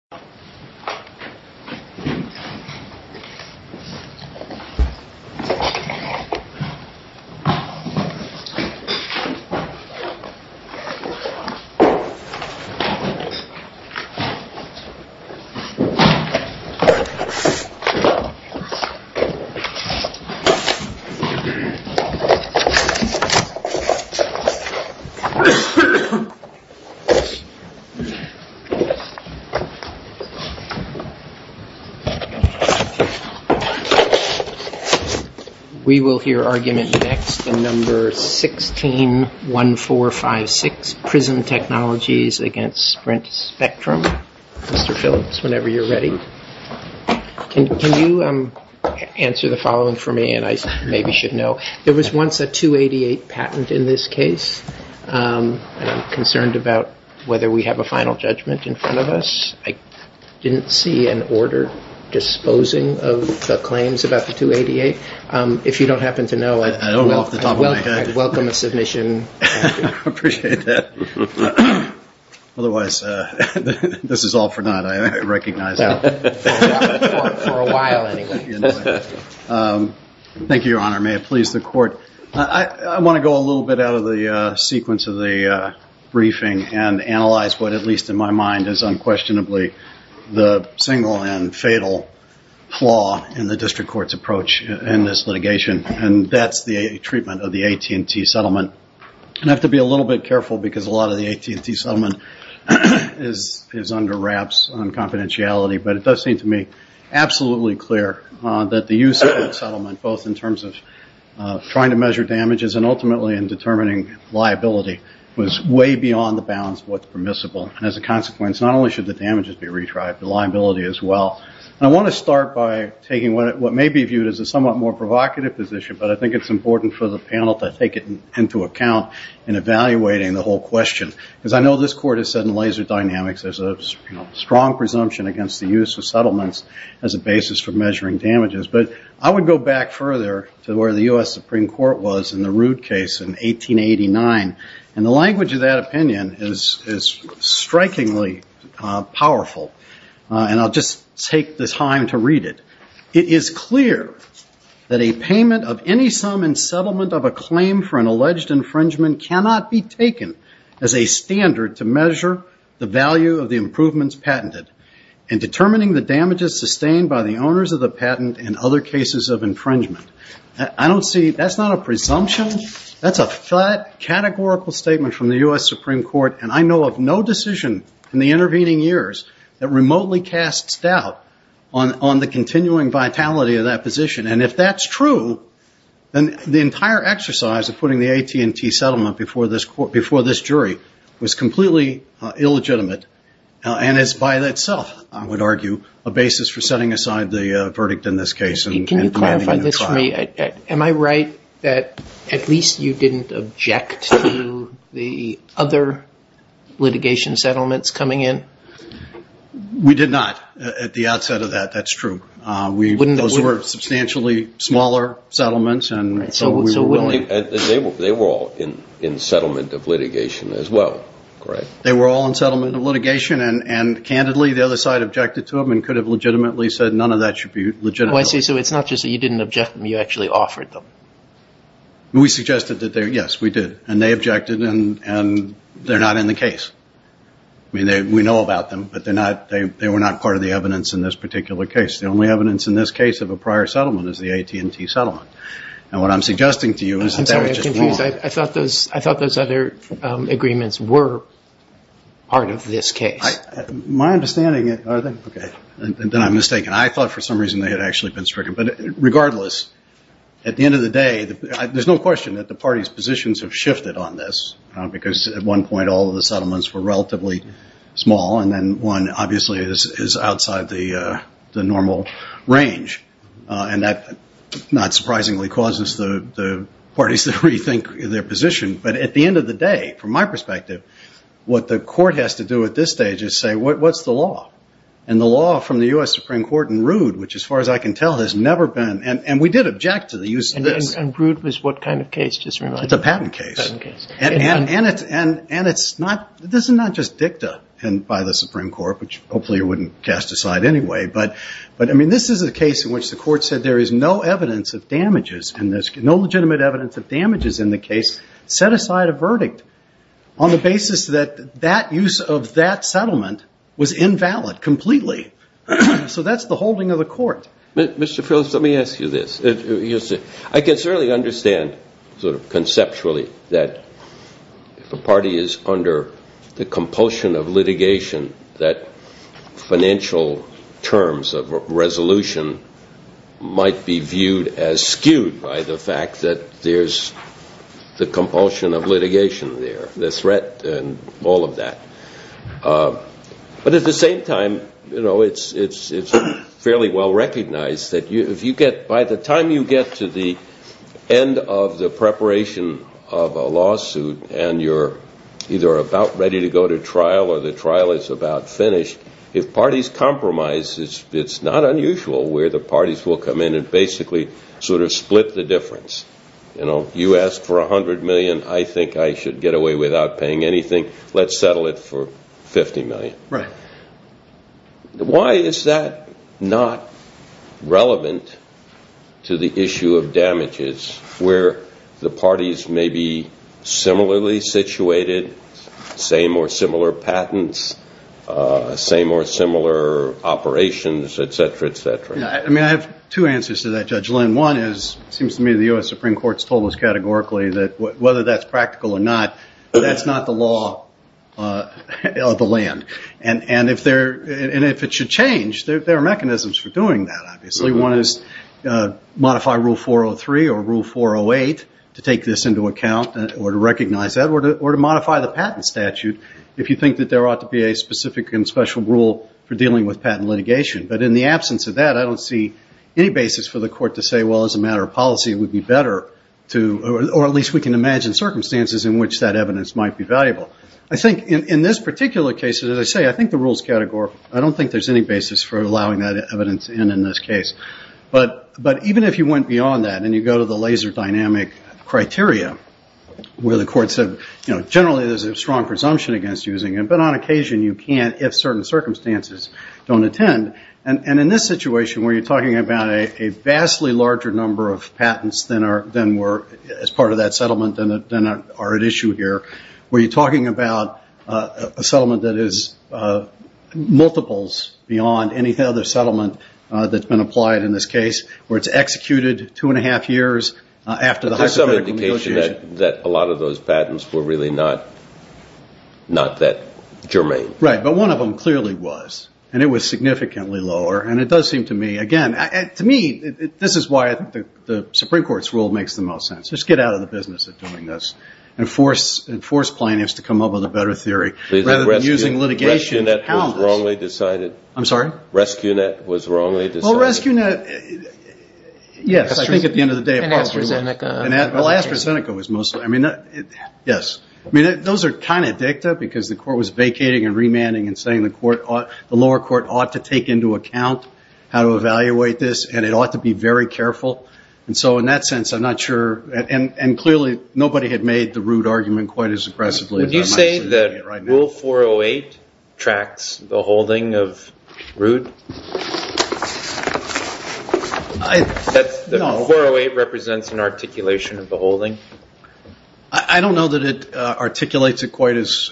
Sprint Spectrum LLC v. Sprint Spectrum L.P. Sprint Spectrum LLC v. Sprint Spectrum L.P. Sprint Spectrum LLC v. Sprint Spectrum L.P. Sprint Spectrum LLC v. Sprint Spectrum L.P. Thank you, Your Honor. May it please the court. I want to go a little bit out of the sequence of the briefing and analyze what, at least in my mind, is unquestionably the single and fatal flaw in the district court's approach in this litigation. And that's the treatment of the AT&T settlement. I have to be a little bit careful, because a lot of the AT&T settlement is under wraps on confidentiality. But it does seem to me absolutely clear that the use of the settlement, both in terms of trying to measure damages and ultimately in determining liability, was way beyond the bounds of what's permissible. And as a consequence, not only should the damages be retried, the liability as well. I want to start by taking what may be viewed as a somewhat more provocative position, but I think it's important for the panel to take it into account in evaluating the whole question. Because I know this court has said in laser dynamics there's a strong presumption against the use of settlements as a basis for measuring damages. But I would go back further to where the US Supreme Court was in the Roode case in 1889. And the language of that opinion is strikingly powerful. And I'll just take the time to read it. It is clear that a payment of any sum in settlement of a claim for an alleged infringement cannot be taken as a standard to measure the value of the improvements patented. And determining the damages sustained by the owners of the patent in other cases of infringement. I don't see, that's not a presumption. That's a fat categorical statement from the US Supreme Court. And I know of no decision in the intervening years that remotely casts doubt on the continuing vitality of that position. And if that's true, then the entire exercise of putting the AT&T settlement before this jury was completely illegitimate. And it's by itself, I would argue, a basis for setting aside the verdict in this case and planning a trial. Can you clarify this for me? Am I right that at least you didn't object to the other litigation settlements coming in? We did not at the outset of that. That's true. Those were substantially smaller settlements. And so we were willing. They were all in settlement of litigation as well, correct? They were all in settlement of litigation. And candidly, the other side objected to them and could have legitimately said, none of that should be legitimate. Oh, I see. So it's not just that you didn't object, you actually offered them. We suggested that, yes, we did. And they objected, and they're not in the case. I mean, we know about them, but they were not part of the evidence in this particular case. The only evidence in this case of a prior settlement is the AT&T settlement. And what I'm suggesting to you is that that was just wrong. I thought those other agreements were part of this case. My understanding is, OK, then I'm mistaken. I thought for some reason they had actually been stricken. But regardless, at the end of the day, there's no question that the party's positions have shifted on this. Because at one point, all of the settlements were relatively small. And then one, obviously, is outside the normal range. And that, not surprisingly, causes the parties to rethink their position. But at the end of the day, from my perspective, what the court has to do at this stage is say, what's the law? And the law from the US Supreme Court in Rood, which as far as I can tell, has never been. And we did object to the use of this. And Rood was what kind of case, just to remind you? It's a patent case. And it's not, this is not just dicta by the Supreme Court, which hopefully you wouldn't cast aside anyway. But I mean, this is a case in which the court said there is no evidence of damages in this, no legitimate evidence of damages in the case, set aside a verdict on the basis that that use of that settlement was invalid completely. So that's the holding of the court. Mr. Phillips, let me ask you this. I can certainly understand, sort of conceptually, that if a party is under the compulsion of litigation, that financial terms of resolution might be viewed as skewed by the fact that there's the compulsion of litigation there, the threat and all of that. But at the same time, it's fairly well-recognized that if you get, by the time you get to the end of the preparation of a lawsuit, and you're either about ready to go to trial, or the trial is about finished, if parties compromise, it's not unusual where the parties will come in and basically sort of split the difference. You asked for $100 million. I think I should get away without paying anything. Let's settle it for $50 million. Why is that not relevant to the issue of damages, where the parties may be similarly situated, say more similar patents, say more similar operations, et cetera, et cetera? I mean, I have two answers to that, Judge Lynn. One is, it seems to me the US Supreme Court's told us categorically that whether that's practical or not, that's not the law of the land. And if it should change, there are mechanisms for doing that, obviously. One is modify Rule 403 or Rule 408 to take this into account, or to recognize that, or to modify the patent statute if you think that there ought to be a specific and special rule for dealing with patent litigation. But in the absence of that, I don't see any basis for the court to say, well, as a matter of policy, it would be better to, or at least we can imagine circumstances in which that evidence might be valuable. I think in this particular case, as I say, I think the rules categorically, I don't think there's any basis for allowing that evidence in, in this case. But even if you went beyond that, and you go to the laser dynamic criteria, where the court said generally there's a strong presumption against using it, but on occasion you can't if certain circumstances don't attend. And in this situation where you're talking about a vastly larger number of patents than were as part of that settlement than are at issue here, where you're talking about a settlement that is multiples beyond any other settlement that's been applied in this case, where it's executed two and a half years after the hypothetical negotiation. There's some indication that a lot of those patents were really not that germane. Right, but one of them clearly was. And it was significantly lower. And it does seem to me, again, to me, this is why I think the Supreme Court's rule makes the most sense. Let's get out of the business of doing this and force plaintiffs to come up with a better theory, rather than using litigation to pound us. Rescue net was wrongly decided. I'm sorry? Rescue net was wrongly decided. Well, rescue net. Yes, I think at the end of the day, it probably was. And AstraZeneca. Well, AstraZeneca was mostly. I mean, yes. I mean, those are kind of dicta, because the court was vacating and remanding and saying the lower court ought to take into account how to evaluate this. And it ought to be very careful. And so in that sense, I'm not sure. And clearly, nobody had made the Root argument quite as aggressively. Would you say that Rule 408 tracks the holding of Root? That 408 represents an articulation of the holding? I don't know that it articulates it quite as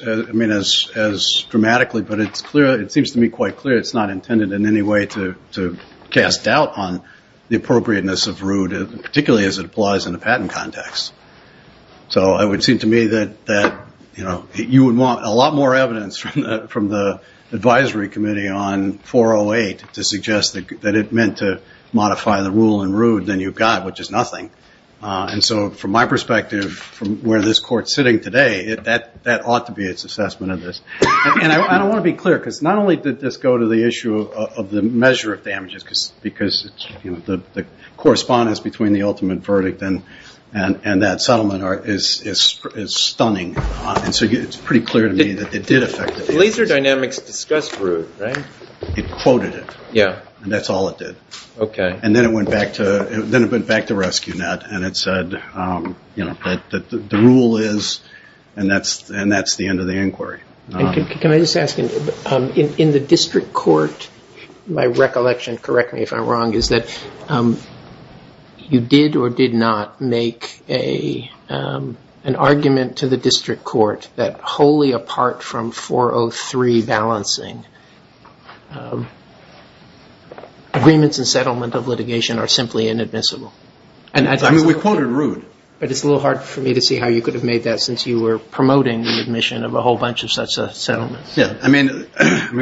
dramatically. But it seems to me quite clear it's not intended in any way to cast doubt on the appropriateness of Root, particularly as it applies in a patent context. So it would seem to me that you would want a lot more evidence from the advisory committee on 408 to suggest that it meant to modify the rule in Root than you've got, which is nothing. And so from my perspective, from where this court's sitting today, that ought to be its assessment of this. And I don't want to be clear, because not only did this go to the issue of the measure of damages, because the correspondence between the ultimate verdict and that settlement is stunning. And so it's pretty clear to me that it did affect it. Laser Dynamics discussed Root, right? It quoted it. And that's all it did. And then it went back to RescueNet, and it said that the rule is, and that's the end of the inquiry. Can I just ask, in the district court, my recollection, correct me if I'm wrong, is that you did or did not make an argument to the district court that, wholly apart from 403 balancing, agreements and settlement of litigation are simply inadmissible? And I mean, we quoted Root. But it's a little hard for me to see how you could have made that, since you were promoting the admission of a whole bunch of such settlements. I mean,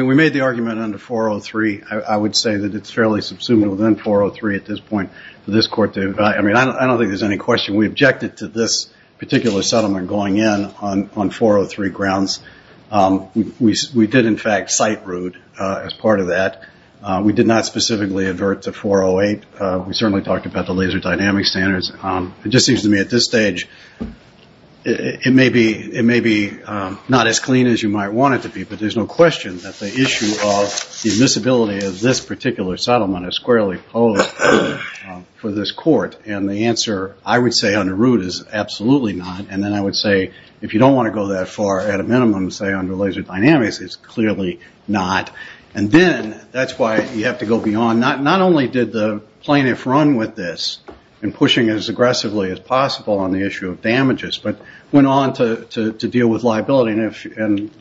we made the argument under 403. I would say that it's fairly subsumative within 403 at this point for this court to evaluate. I mean, I don't think there's any question. We objected to this particular settlement going in on 403 grounds. We did, in fact, cite Root as part of that. We did not specifically advert to 408. We certainly talked about the laser dynamics standards. It just seems to me, at this stage, it may be not as clean as you might want it to be. But there's no question that the issue of the admissibility of this particular settlement is squarely posed for this court. And the answer, I would say, under Root is absolutely not. And then I would say, if you don't want to go that far at a minimum, say under laser dynamics, it's clearly not. And then that's why you have to go beyond. Not only did the plaintiff run with this in pushing as aggressively as possible on the issue of damages, but went on to deal with liability. And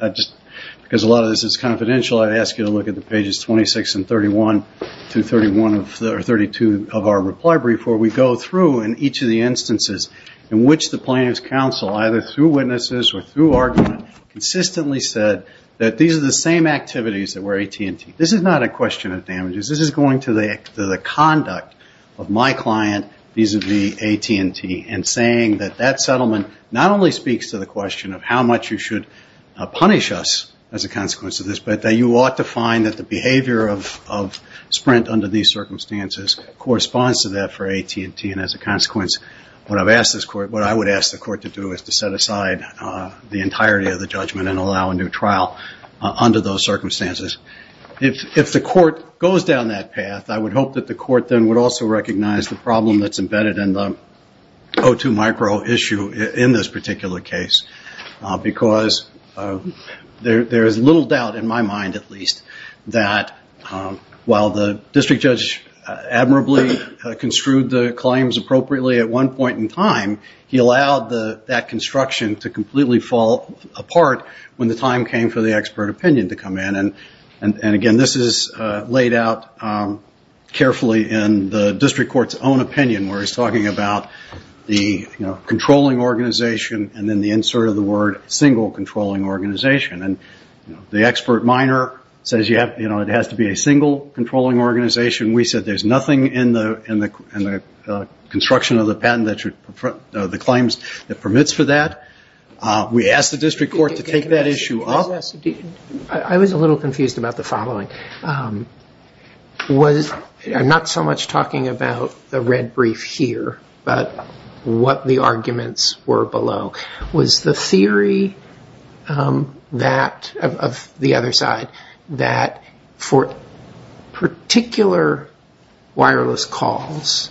because a lot of this is confidential, I'd ask you to look at the pages 26 and 31 through 32 of our reply brief, where we go through in each of the instances in which the plaintiff's counsel, either through witnesses or through argument, consistently said that these are the same activities that were AT&T. This is not a question of damages. This is going to the conduct of my client vis-a-vis AT&T and saying that that settlement not only speaks to the question of how much you should punish us as a consequence of this, but that you ought to find that the behavior of Sprint under these circumstances corresponds to that for AT&T. And as a consequence, what I would ask the court to do is to set aside the entirety of the judgment and allow a new trial under those circumstances. If the court goes down that path, I would hope that the court then would also recognize the problem that's embedded in the O2 micro issue in this particular case. Because there is little doubt, in my mind at least, that while the district judge admirably construed the claims appropriately at one point in time, he allowed that construction to completely fall apart when the time came for the expert opinion to come in. And again, this is laid out carefully in the district court's own opinion, where he's talking about the controlling organization and then the insert of the word single controlling organization. And the expert minor says it has to be a single controlling organization. We said there's nothing in the construction of the patent that permits for that. We asked the district court to take that issue up. I was a little confused about the following. I'm not so much talking about the red brief here, but what the arguments were below. Was the theory of the other side that for particular wireless calls,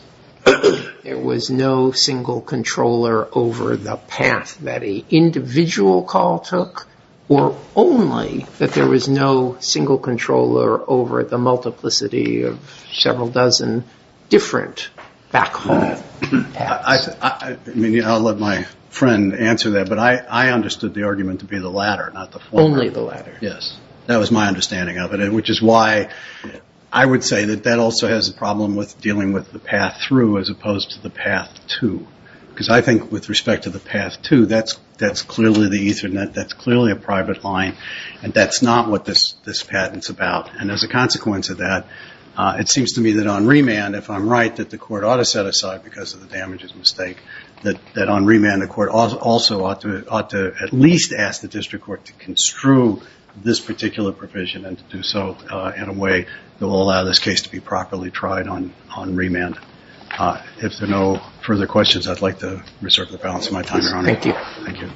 there was no single controller over the path that a individual call took? Or only that there was no single controller over the multiplicity of several dozen different back home paths? I'll let my friend answer that. But I understood the argument to be the latter, not the former. Only the latter. Yes. That was my understanding of it, which is why I would say that that also has a problem with dealing with the path through, as opposed to the path to. Because I think with respect to the path to, that's clearly the ethernet. That's clearly a private line. And that's not what this patent's about. And as a consequence of that, it seems to me that on remand, if I'm right, that the court ought to set aside, because of the damages mistake, that on remand the court also ought to at least ask the district court to construe this particular provision and to do so in a way that will allow this case to be properly tried on remand. If there are no further questions, I'd like to reserve the balance of my time, Your Honor. Thank you. Thank you.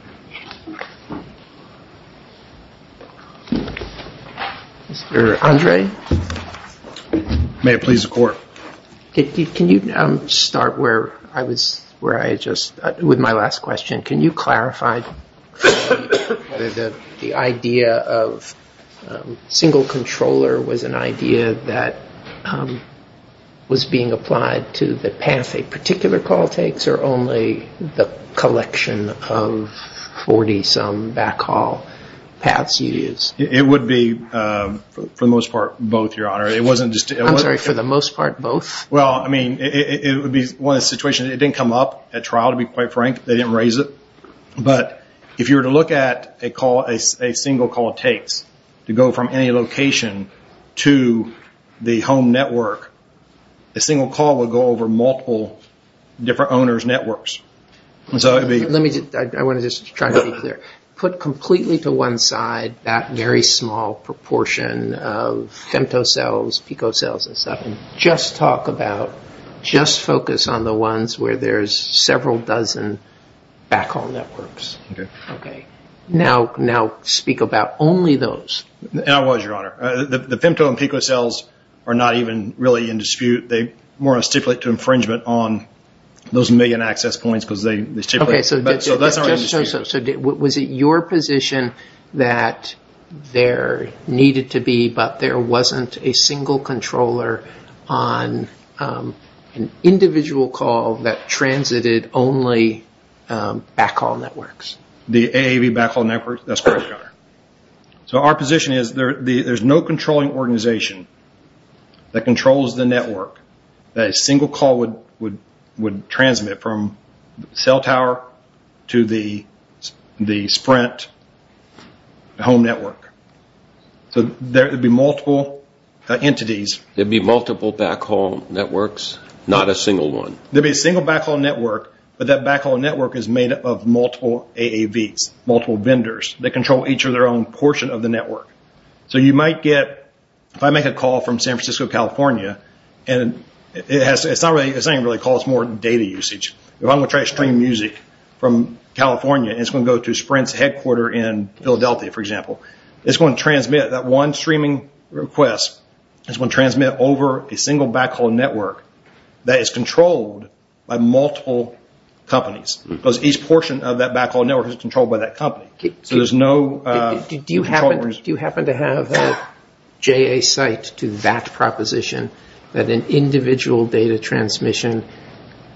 Mr. Andre? May it please the court. Can you start where I was, where I had just, with my last question. Can you clarify? That the idea of single controller was an idea that was being applied to the path a particular call takes, or only the collection of 40 some backhaul paths it is? It would be, for the most part, both, Your Honor. It wasn't just. I'm sorry, for the most part, both? Well, I mean, it would be one situation. It didn't come up at trial, to be quite frank. They didn't raise it. But if you were to look at a call, a single call takes, to go from any location to the home network, a single call would go over multiple different owner's networks. So it would be. I want to just try to be clear. Put completely to one side that very small proportion of femtocells, picocells, and stuff, and just talk about, just focus on the ones where there's several dozen backhaul networks. OK, now speak about only those. And I was, Your Honor. The femtocells and picocells are not even really in dispute. They more or less stipulate to infringement on those million access points, because they stipulate. OK, so was it your position that there needed to be, but there wasn't a single controller on an individual call that transited only backhaul networks? The AAV backhaul network? That's correct, Your Honor. So our position is there's no controlling organization that controls the network that a single call would transmit from the cell tower to the Sprint home network. So there would be multiple entities. There'd be multiple backhaul networks, not a single one. There'd be a single backhaul network, but that backhaul network is made up of multiple AAVs, multiple vendors that control each of their own portion of the network. So you might get, if I make a call from San Francisco, California, and it's not really, it doesn't really cause more data usage. If I'm going to try to stream music from California, and it's going to go to Sprint's headquarter in Philadelphia, for example, it's going to transmit that one streaming request, it's going to transmit over a single backhaul network that is controlled by multiple companies. Because each portion of that backhaul network is controlled by that company. So there's no controllers. Do you happen to have a JA site to that proposition, that an individual data transmission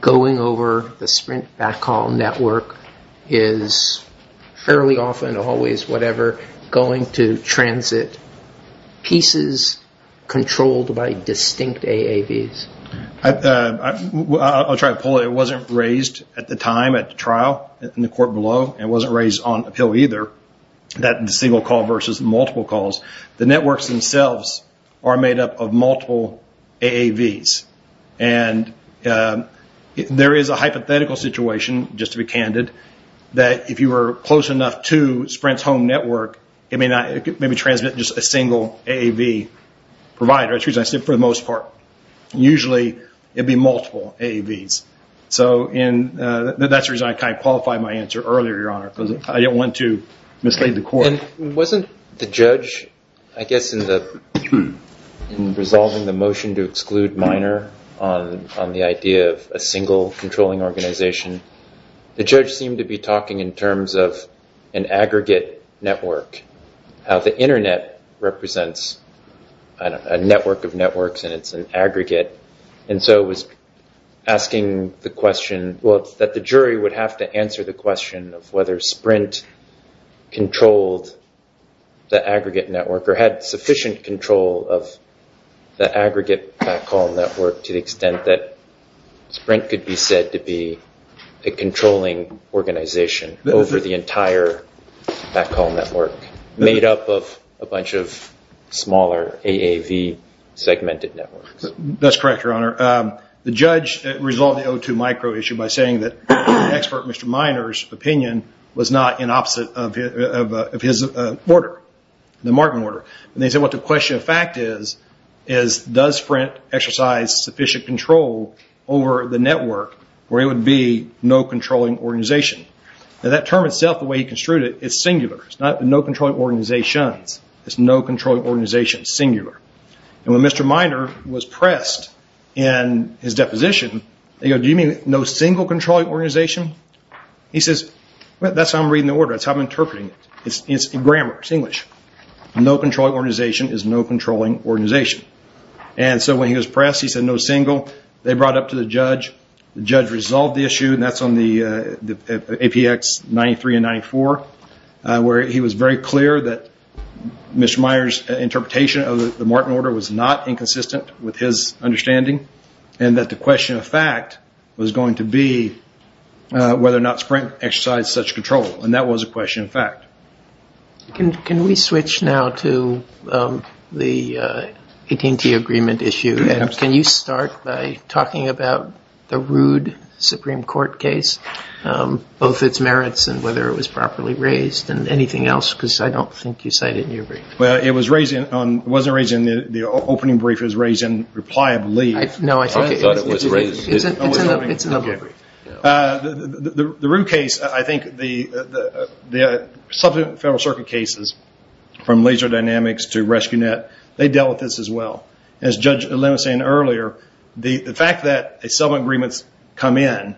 going over the Sprint backhaul network is fairly often, always, whatever, going to transit pieces controlled by distinct AAVs? I'll try to pull it. It wasn't raised at the time at the trial in the court below. It wasn't raised on appeal either, that single call versus multiple calls. The networks themselves are made up of multiple AAVs. And there is a hypothetical situation, just to be candid, that if you were close enough to Sprint's home network, it may transmit just a single AAV provider. That's the reason I said for the most part. Usually, it would be multiple AAVs. So that's the reason I kind of qualified my answer earlier, Your Honor, because I didn't want to mislead the court. Wasn't the judge, I guess, in resolving the motion to exclude Miner on the idea of a single controlling organization, the judge seemed to be talking in terms of an aggregate network, how the internet represents a network of networks, and it's an aggregate. And so it was asking the question, well, that the jury would have to answer the question of whether Sprint controlled the aggregate network or had sufficient control of the aggregate backhaul network to the extent that Sprint could be said to be a controlling organization over the entire backhaul network made up of a bunch of smaller AAV segmented networks. That's correct, Your Honor. The judge resolved the O2 micro issue by saying that expert Mr. Miner's opinion was not in opposite of his order, the Martin order. And they said what the question of fact is, does Sprint exercise sufficient control over the network where it would be no controlling organization? That term itself, the way he construed it, is singular. It's not no controlling organizations. It's no controlling organizations, singular. And when Mr. Miner was pressed in his deposition, they go, do you mean no single controlling organization? He says, that's how I'm reading the order. That's how I'm interpreting it. It's grammar, it's English. No controlling organization is no controlling organization. And so when he was pressed, he said no single. They brought up to the judge. The judge resolved the issue, and that's on the APX 93 and 94, where he was very clear that Mr. Miner's interpretation of the Martin order was not inconsistent with his understanding, and that the question of fact was going to be whether or not Sprint exercised such control. And that was a question of fact. Can we switch now to the AT&T agreement issue? Can you start by talking about the rude Supreme Court case, both its merits and whether it was properly raised, and anything else? Because I don't think you cited it in your brief. It was raised on, it wasn't raised in the opening brief. It was raised in reply of leave. No, I thought it was raised. It's in the brief. The rude case, I think the substantive federal circuit cases, from laser dynamics to rescue net, they dealt with this as well. As Judge Lemann was saying earlier, the fact that a settlement agreement's come in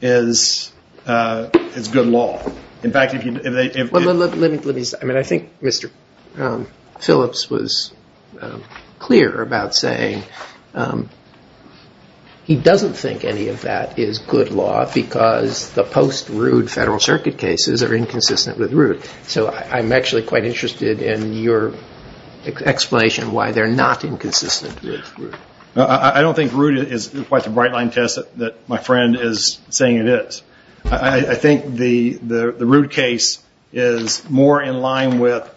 is good law. In fact, if they if they Well, let me say, I mean, I think Mr. Phillips was clear about saying that he doesn't think any of that is good law because the post-rude federal circuit cases are inconsistent with root. So I'm actually quite interested in your explanation why they're not inconsistent with root. I don't think root is quite the bright line test that my friend is saying it is. I think the rude case is more in line with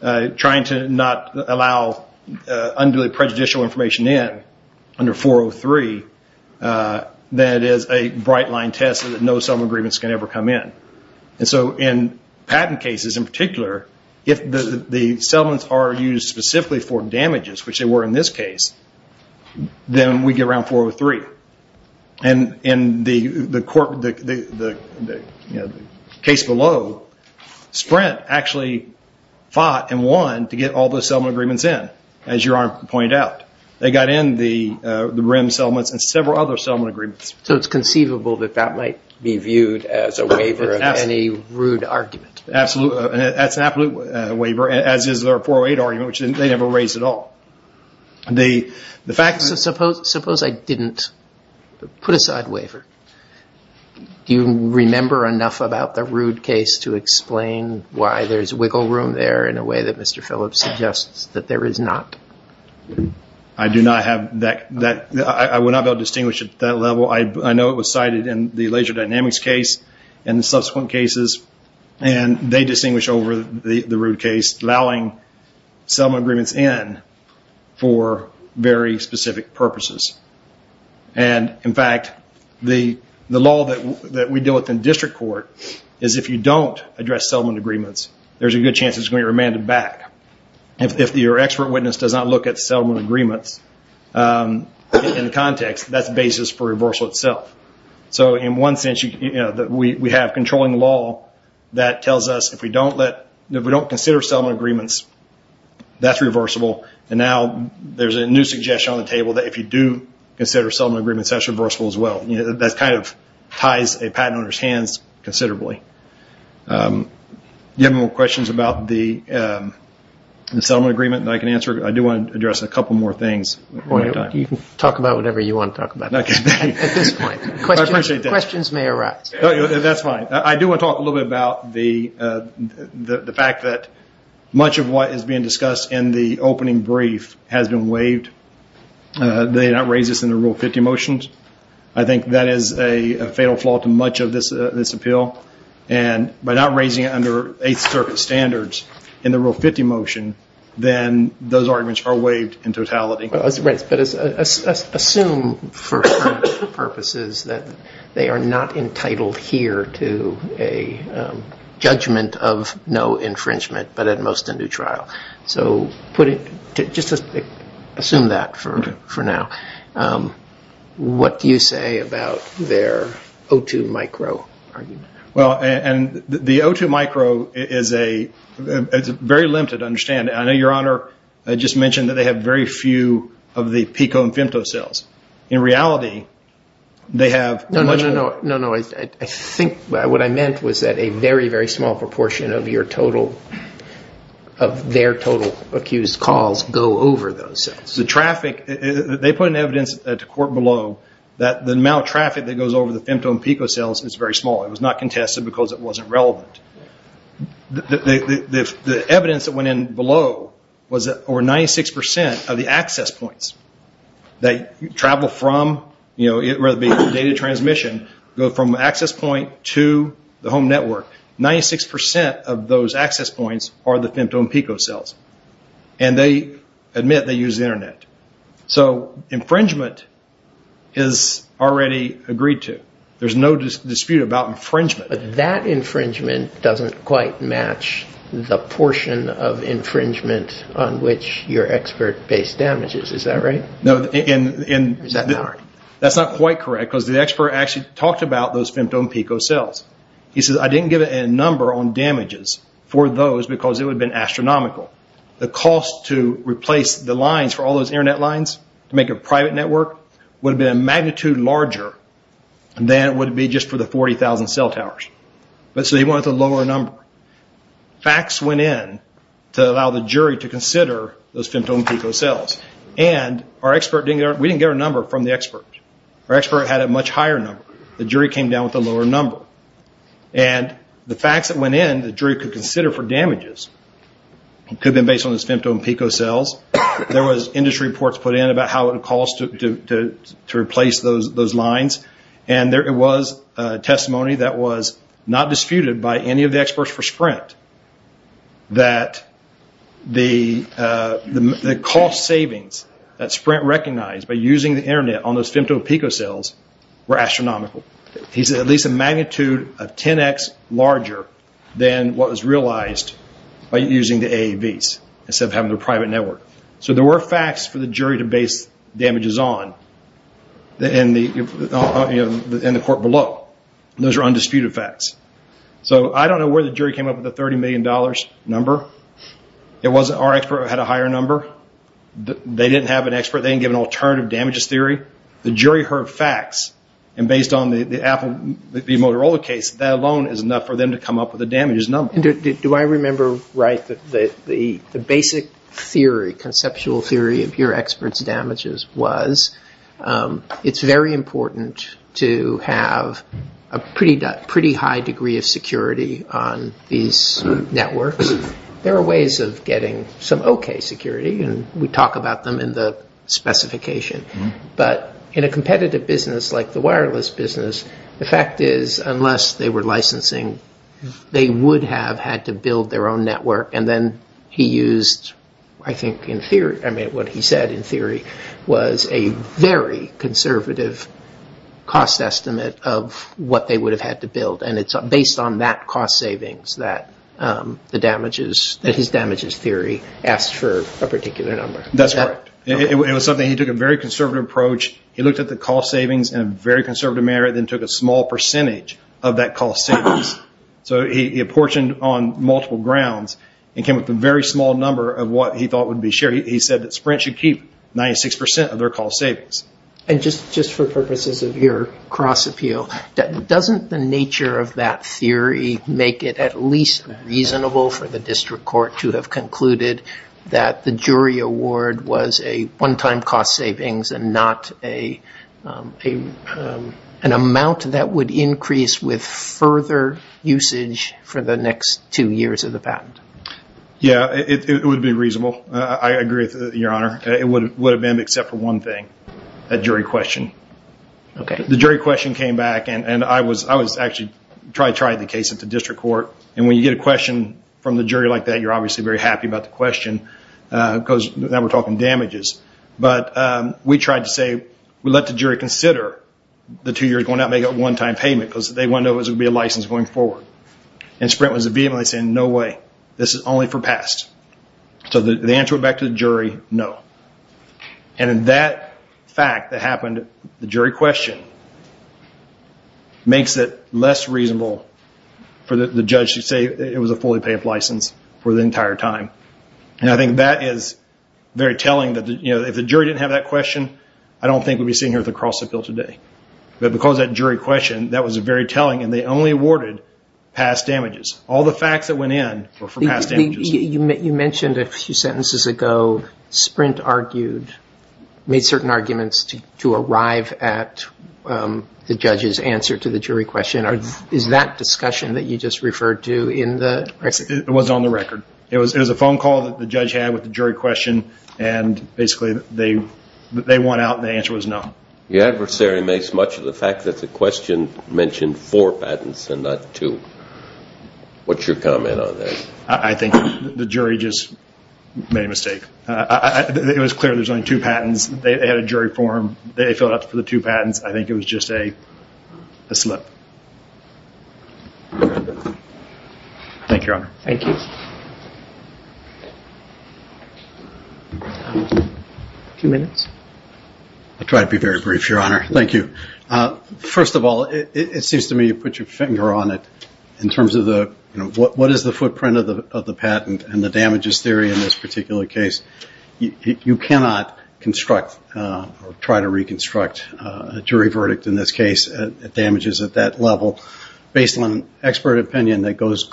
trying to not allow unduly prejudicial information in under 403 than it is a bright line test that no settlement agreements can ever come in. And so in patent cases in particular, if the settlements are used specifically for damages, which they were in this case, then we get around 403. And in the case below, Sprint actually fought and won to get all the settlement agreements in, as you pointed out. They got in the rim settlements and several other settlement agreements. So it's conceivable that that might be viewed as a waiver of any rude argument. Absolutely. That's an absolute waiver, as is their 408 argument, which they never raised at all. The fact that Suppose I didn't put aside waiver. Do you remember enough about the rude case to explain why there's wiggle room there in a way that Mr. Phillips suggests that there is not? I do not have that. I would not be able to distinguish at that level. I know it was cited in the laser dynamics case and the subsequent cases, and they distinguish over the rude case, allowing settlement agreements in for very specific purposes. And in fact, the law that we deal with in district court is if you don't address settlement agreements, there's a good chance it's going to be remanded back. If your expert witness does not look at settlement agreements in the context, that's the basis for reversal itself. So in one sense, we have controlling law that tells us if we don't consider settlement agreements, that's reversible. And now there's a new suggestion on the table that if you do consider settlement agreements, that's reversible as well. That kind of ties a patent owner's hands considerably. Do you have more questions about the settlement agreement? I can answer. I do want to address a couple more things. You can talk about whatever you want to talk about. At this point, questions may arise. That's fine. I do want to talk a little bit about the fact that much of what is being discussed in the opening brief has been waived. They did not raise this in the Rule 50 motions. I think that is a fatal flaw to much of this appeal. And by not raising it under Eighth Circuit standards in the Rule 50 motion, then those arguments are waived in totality. That's right, but assume for purposes that they are not entitled here to a judgment of no infringement, but at most a new trial. So just assume that for now. What do you say about their O2 micro argument? Well, the O2 micro is a very limited understanding. I know, Your Honor, I just mentioned that they have very few of the pico-infimto cells. In reality, they have much of it. No, no, no. I think what I meant was that a very, very small proportion of their total accused calls go over those cells. The traffic, they put in evidence at the court below that the amount of traffic that goes over the femto and pico cells is very small. It was not contested because it wasn't relevant. The evidence that went in below was that over 96% of the access points that travel from data transmission go from access point to the home network. 96% of those access points are the femto and pico cells. And they admit they use the internet. So infringement is already agreed to. There's no dispute about infringement. But that infringement doesn't quite match the portion of infringement on which your expert based damages. Is that right? No, and that's not quite correct because the expert actually talked about those femto and pico cells. He says, I didn't give a number on damages for those because it would have been astronomical. The cost to replace the lines for all those internet lines to make a private network would have been a magnitude larger than it would be just for the 40,000 cell towers. But so he wanted a lower number. Facts went in to allow the jury to consider those femto and pico cells. And our expert, we didn't get our number from the expert. Our expert had a much higher number. The jury came down with a lower number. And the facts that went in, the jury could consider for damages. It could have been based on those femto and pico cells. There was industry reports put in about how it would cost to replace those lines. And there was testimony that was not disputed by any of the experts for Sprint that the cost savings that Sprint recognized by using the internet on those femto and pico cells were astronomical. He said at least a magnitude of 10x larger than what was realized by using the AAVs instead of having their private network. So there were facts for the jury to base damages on in the court below. Those are undisputed facts. So I don't know where the jury came up with the $30 million number. It wasn't our expert who had a higher number. They didn't have an expert. They didn't give an alternative damages theory. The jury heard facts. And based on the Motorola case, that alone is enough for them to come up with a damages number. Do I remember right that the basic theory, conceptual theory of your experts' damages was it's very important to have a pretty high degree of security on these networks. There are ways of getting some okay security, and we talk about them in the specification. But in a competitive business like the wireless business, the fact is unless they were licensing, they would have had to build their own network. And then he used, I think in theory, I mean, what he said in theory was a very conservative cost estimate of what they would have had to build. And it's based on that cost savings that his damages theory asked for a particular number. That's right. It was something he took a very conservative approach. He looked at the cost savings in a very conservative manner, and then took a small percentage of that cost savings. So he apportioned on multiple grounds and came up with a very small number of what he thought would be shared. He said that Sprint should keep 96% of their cost savings. And just for purposes of your cross-appeal, doesn't the nature of that theory make it at least reasonable for the district court to have concluded that the jury award was a one-time cost savings and not an amount that would increase with further usage for the next two years of the patent? Yeah, it would be reasonable. I agree with you, Your Honor. It would have been except for one thing, that jury question. Okay. The jury question came back, and I was actually, tried the case at the district court. And when you get a question from the jury like that, you're obviously very happy about the question, because now we're talking damages. But we tried to say, we let the jury consider the two years going out, make it a one-time payment, because they wanted to know if it would be a license going forward. And Sprint was vehemently saying, no way, this is only for past. So the answer went back to the jury, no. And that fact that happened, the jury question, makes it less reasonable for the judge to say it was a fully paid license for the entire time. And I think that is very telling that if the jury didn't have that question, I don't think we'd be sitting here with a cross-appeal today. But because of that jury question, that was very telling, and they only awarded past damages. All the facts that went in were for past damages. You mentioned a few sentences ago, Sprint argued, made certain arguments to arrive at the judge's answer to the jury question. Is that discussion that you just referred to in the? It was on the record. It was a phone call that the judge had with the jury question, and basically they won out, and the answer was no. The adversary makes much of the fact that the question mentioned four patents and not two. What's your comment on that? I think the jury just made a mistake. It was clear there's only two patents. They had a jury form. They filled out for the two patents. I think it was just a slip. Thank you, Your Honor. Thank you. A few minutes. I'll try to be very brief, Your Honor. Thank you. First of all, it seems to me you put your finger on it in terms of what is the footprint of the patent and the damages theory in this particular case. You cannot construct or try to reconstruct a jury verdict in this case at damages at that level based on an expert opinion that goes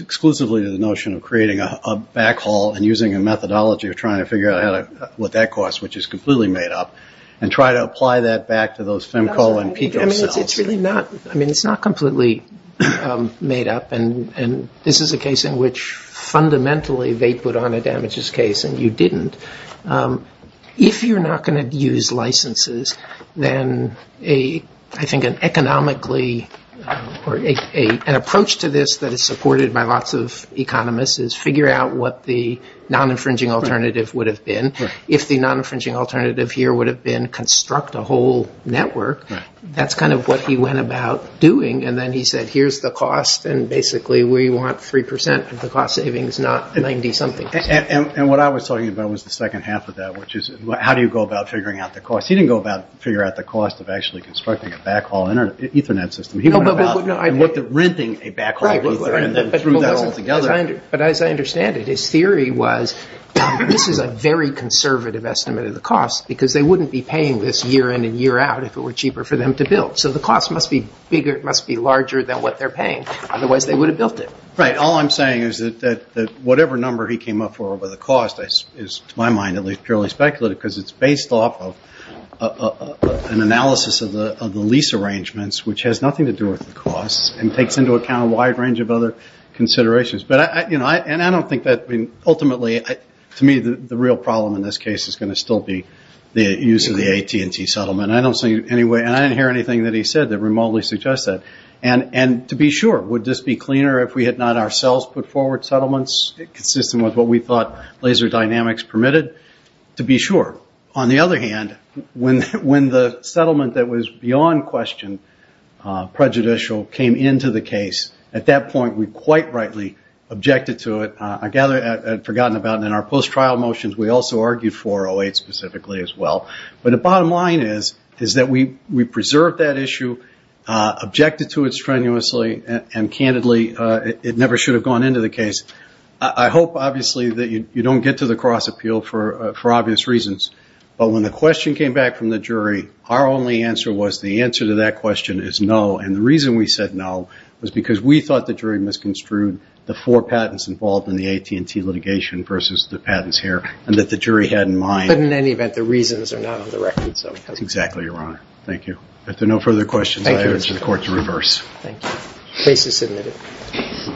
exclusively to the notion of creating a backhaul and using a methodology of trying to figure out what that costs, which is completely made up, and try to apply that back to those Femco and Pedro cells. I mean, it's not completely made up, and this is a case in which fundamentally they put on a damages case and you didn't. If you're not gonna use licenses, then I think an economically, or an approach to this that is supported by lots of economists is figure out what the non-infringing alternative would have been. If the non-infringing alternative here would have been construct a whole network, that's kind of what he went about doing. And then he said, here's the cost, and basically we want 3% of the cost savings, not 90 something. And what I was talking about was the second half of that, which is how do you go about figuring out the cost? He didn't go about figure out the cost of actually constructing a backhaul Ethernet system. He went about renting a backhaul Ethernet and then threw that all together. But as I understand it, his theory was, this is a very conservative estimate of the cost because they wouldn't be paying this year in and year out if it were cheaper for them to build. So the cost must be bigger, it must be larger than what they're paying, otherwise they would have built it. Right, all I'm saying is that whatever number he came up for over the cost, is to my mind at least purely speculative because it's based off of an analysis of the lease arrangements, which has nothing to do with the costs and takes into account a wide range of other considerations. And I don't think that ultimately, to me the real problem in this case is going to still be the use of the AT&T settlement. I don't see any way, and I didn't hear anything that he said that remotely suggests that. And to be sure, would this be cleaner if we had not ourselves put forward settlements consistent with what we thought laser dynamics permitted? To be sure. On the other hand, when the settlement that was beyond question prejudicial came into the case, at that point we quite rightly objected to it. I gather, I'd forgotten about it in our post-trial motions, we also argued for 08 specifically as well. But the bottom line is, is that we preserved that issue, objected to it strenuously, and candidly, it never should have gone into the case. I hope obviously that you don't get to the cross appeal for obvious reasons. But when the question came back from the jury, our only answer was the answer to that question is no. And the reason we said no was because we thought the jury misconstrued the four patents involved in the AT&T litigation versus the patents here, and that the jury had in mind. But in any event, the reasons are not on the record, so. Exactly, Your Honor. Thank you. If there are no further questions, I urge the court to reverse. Thank you. Case is submitted.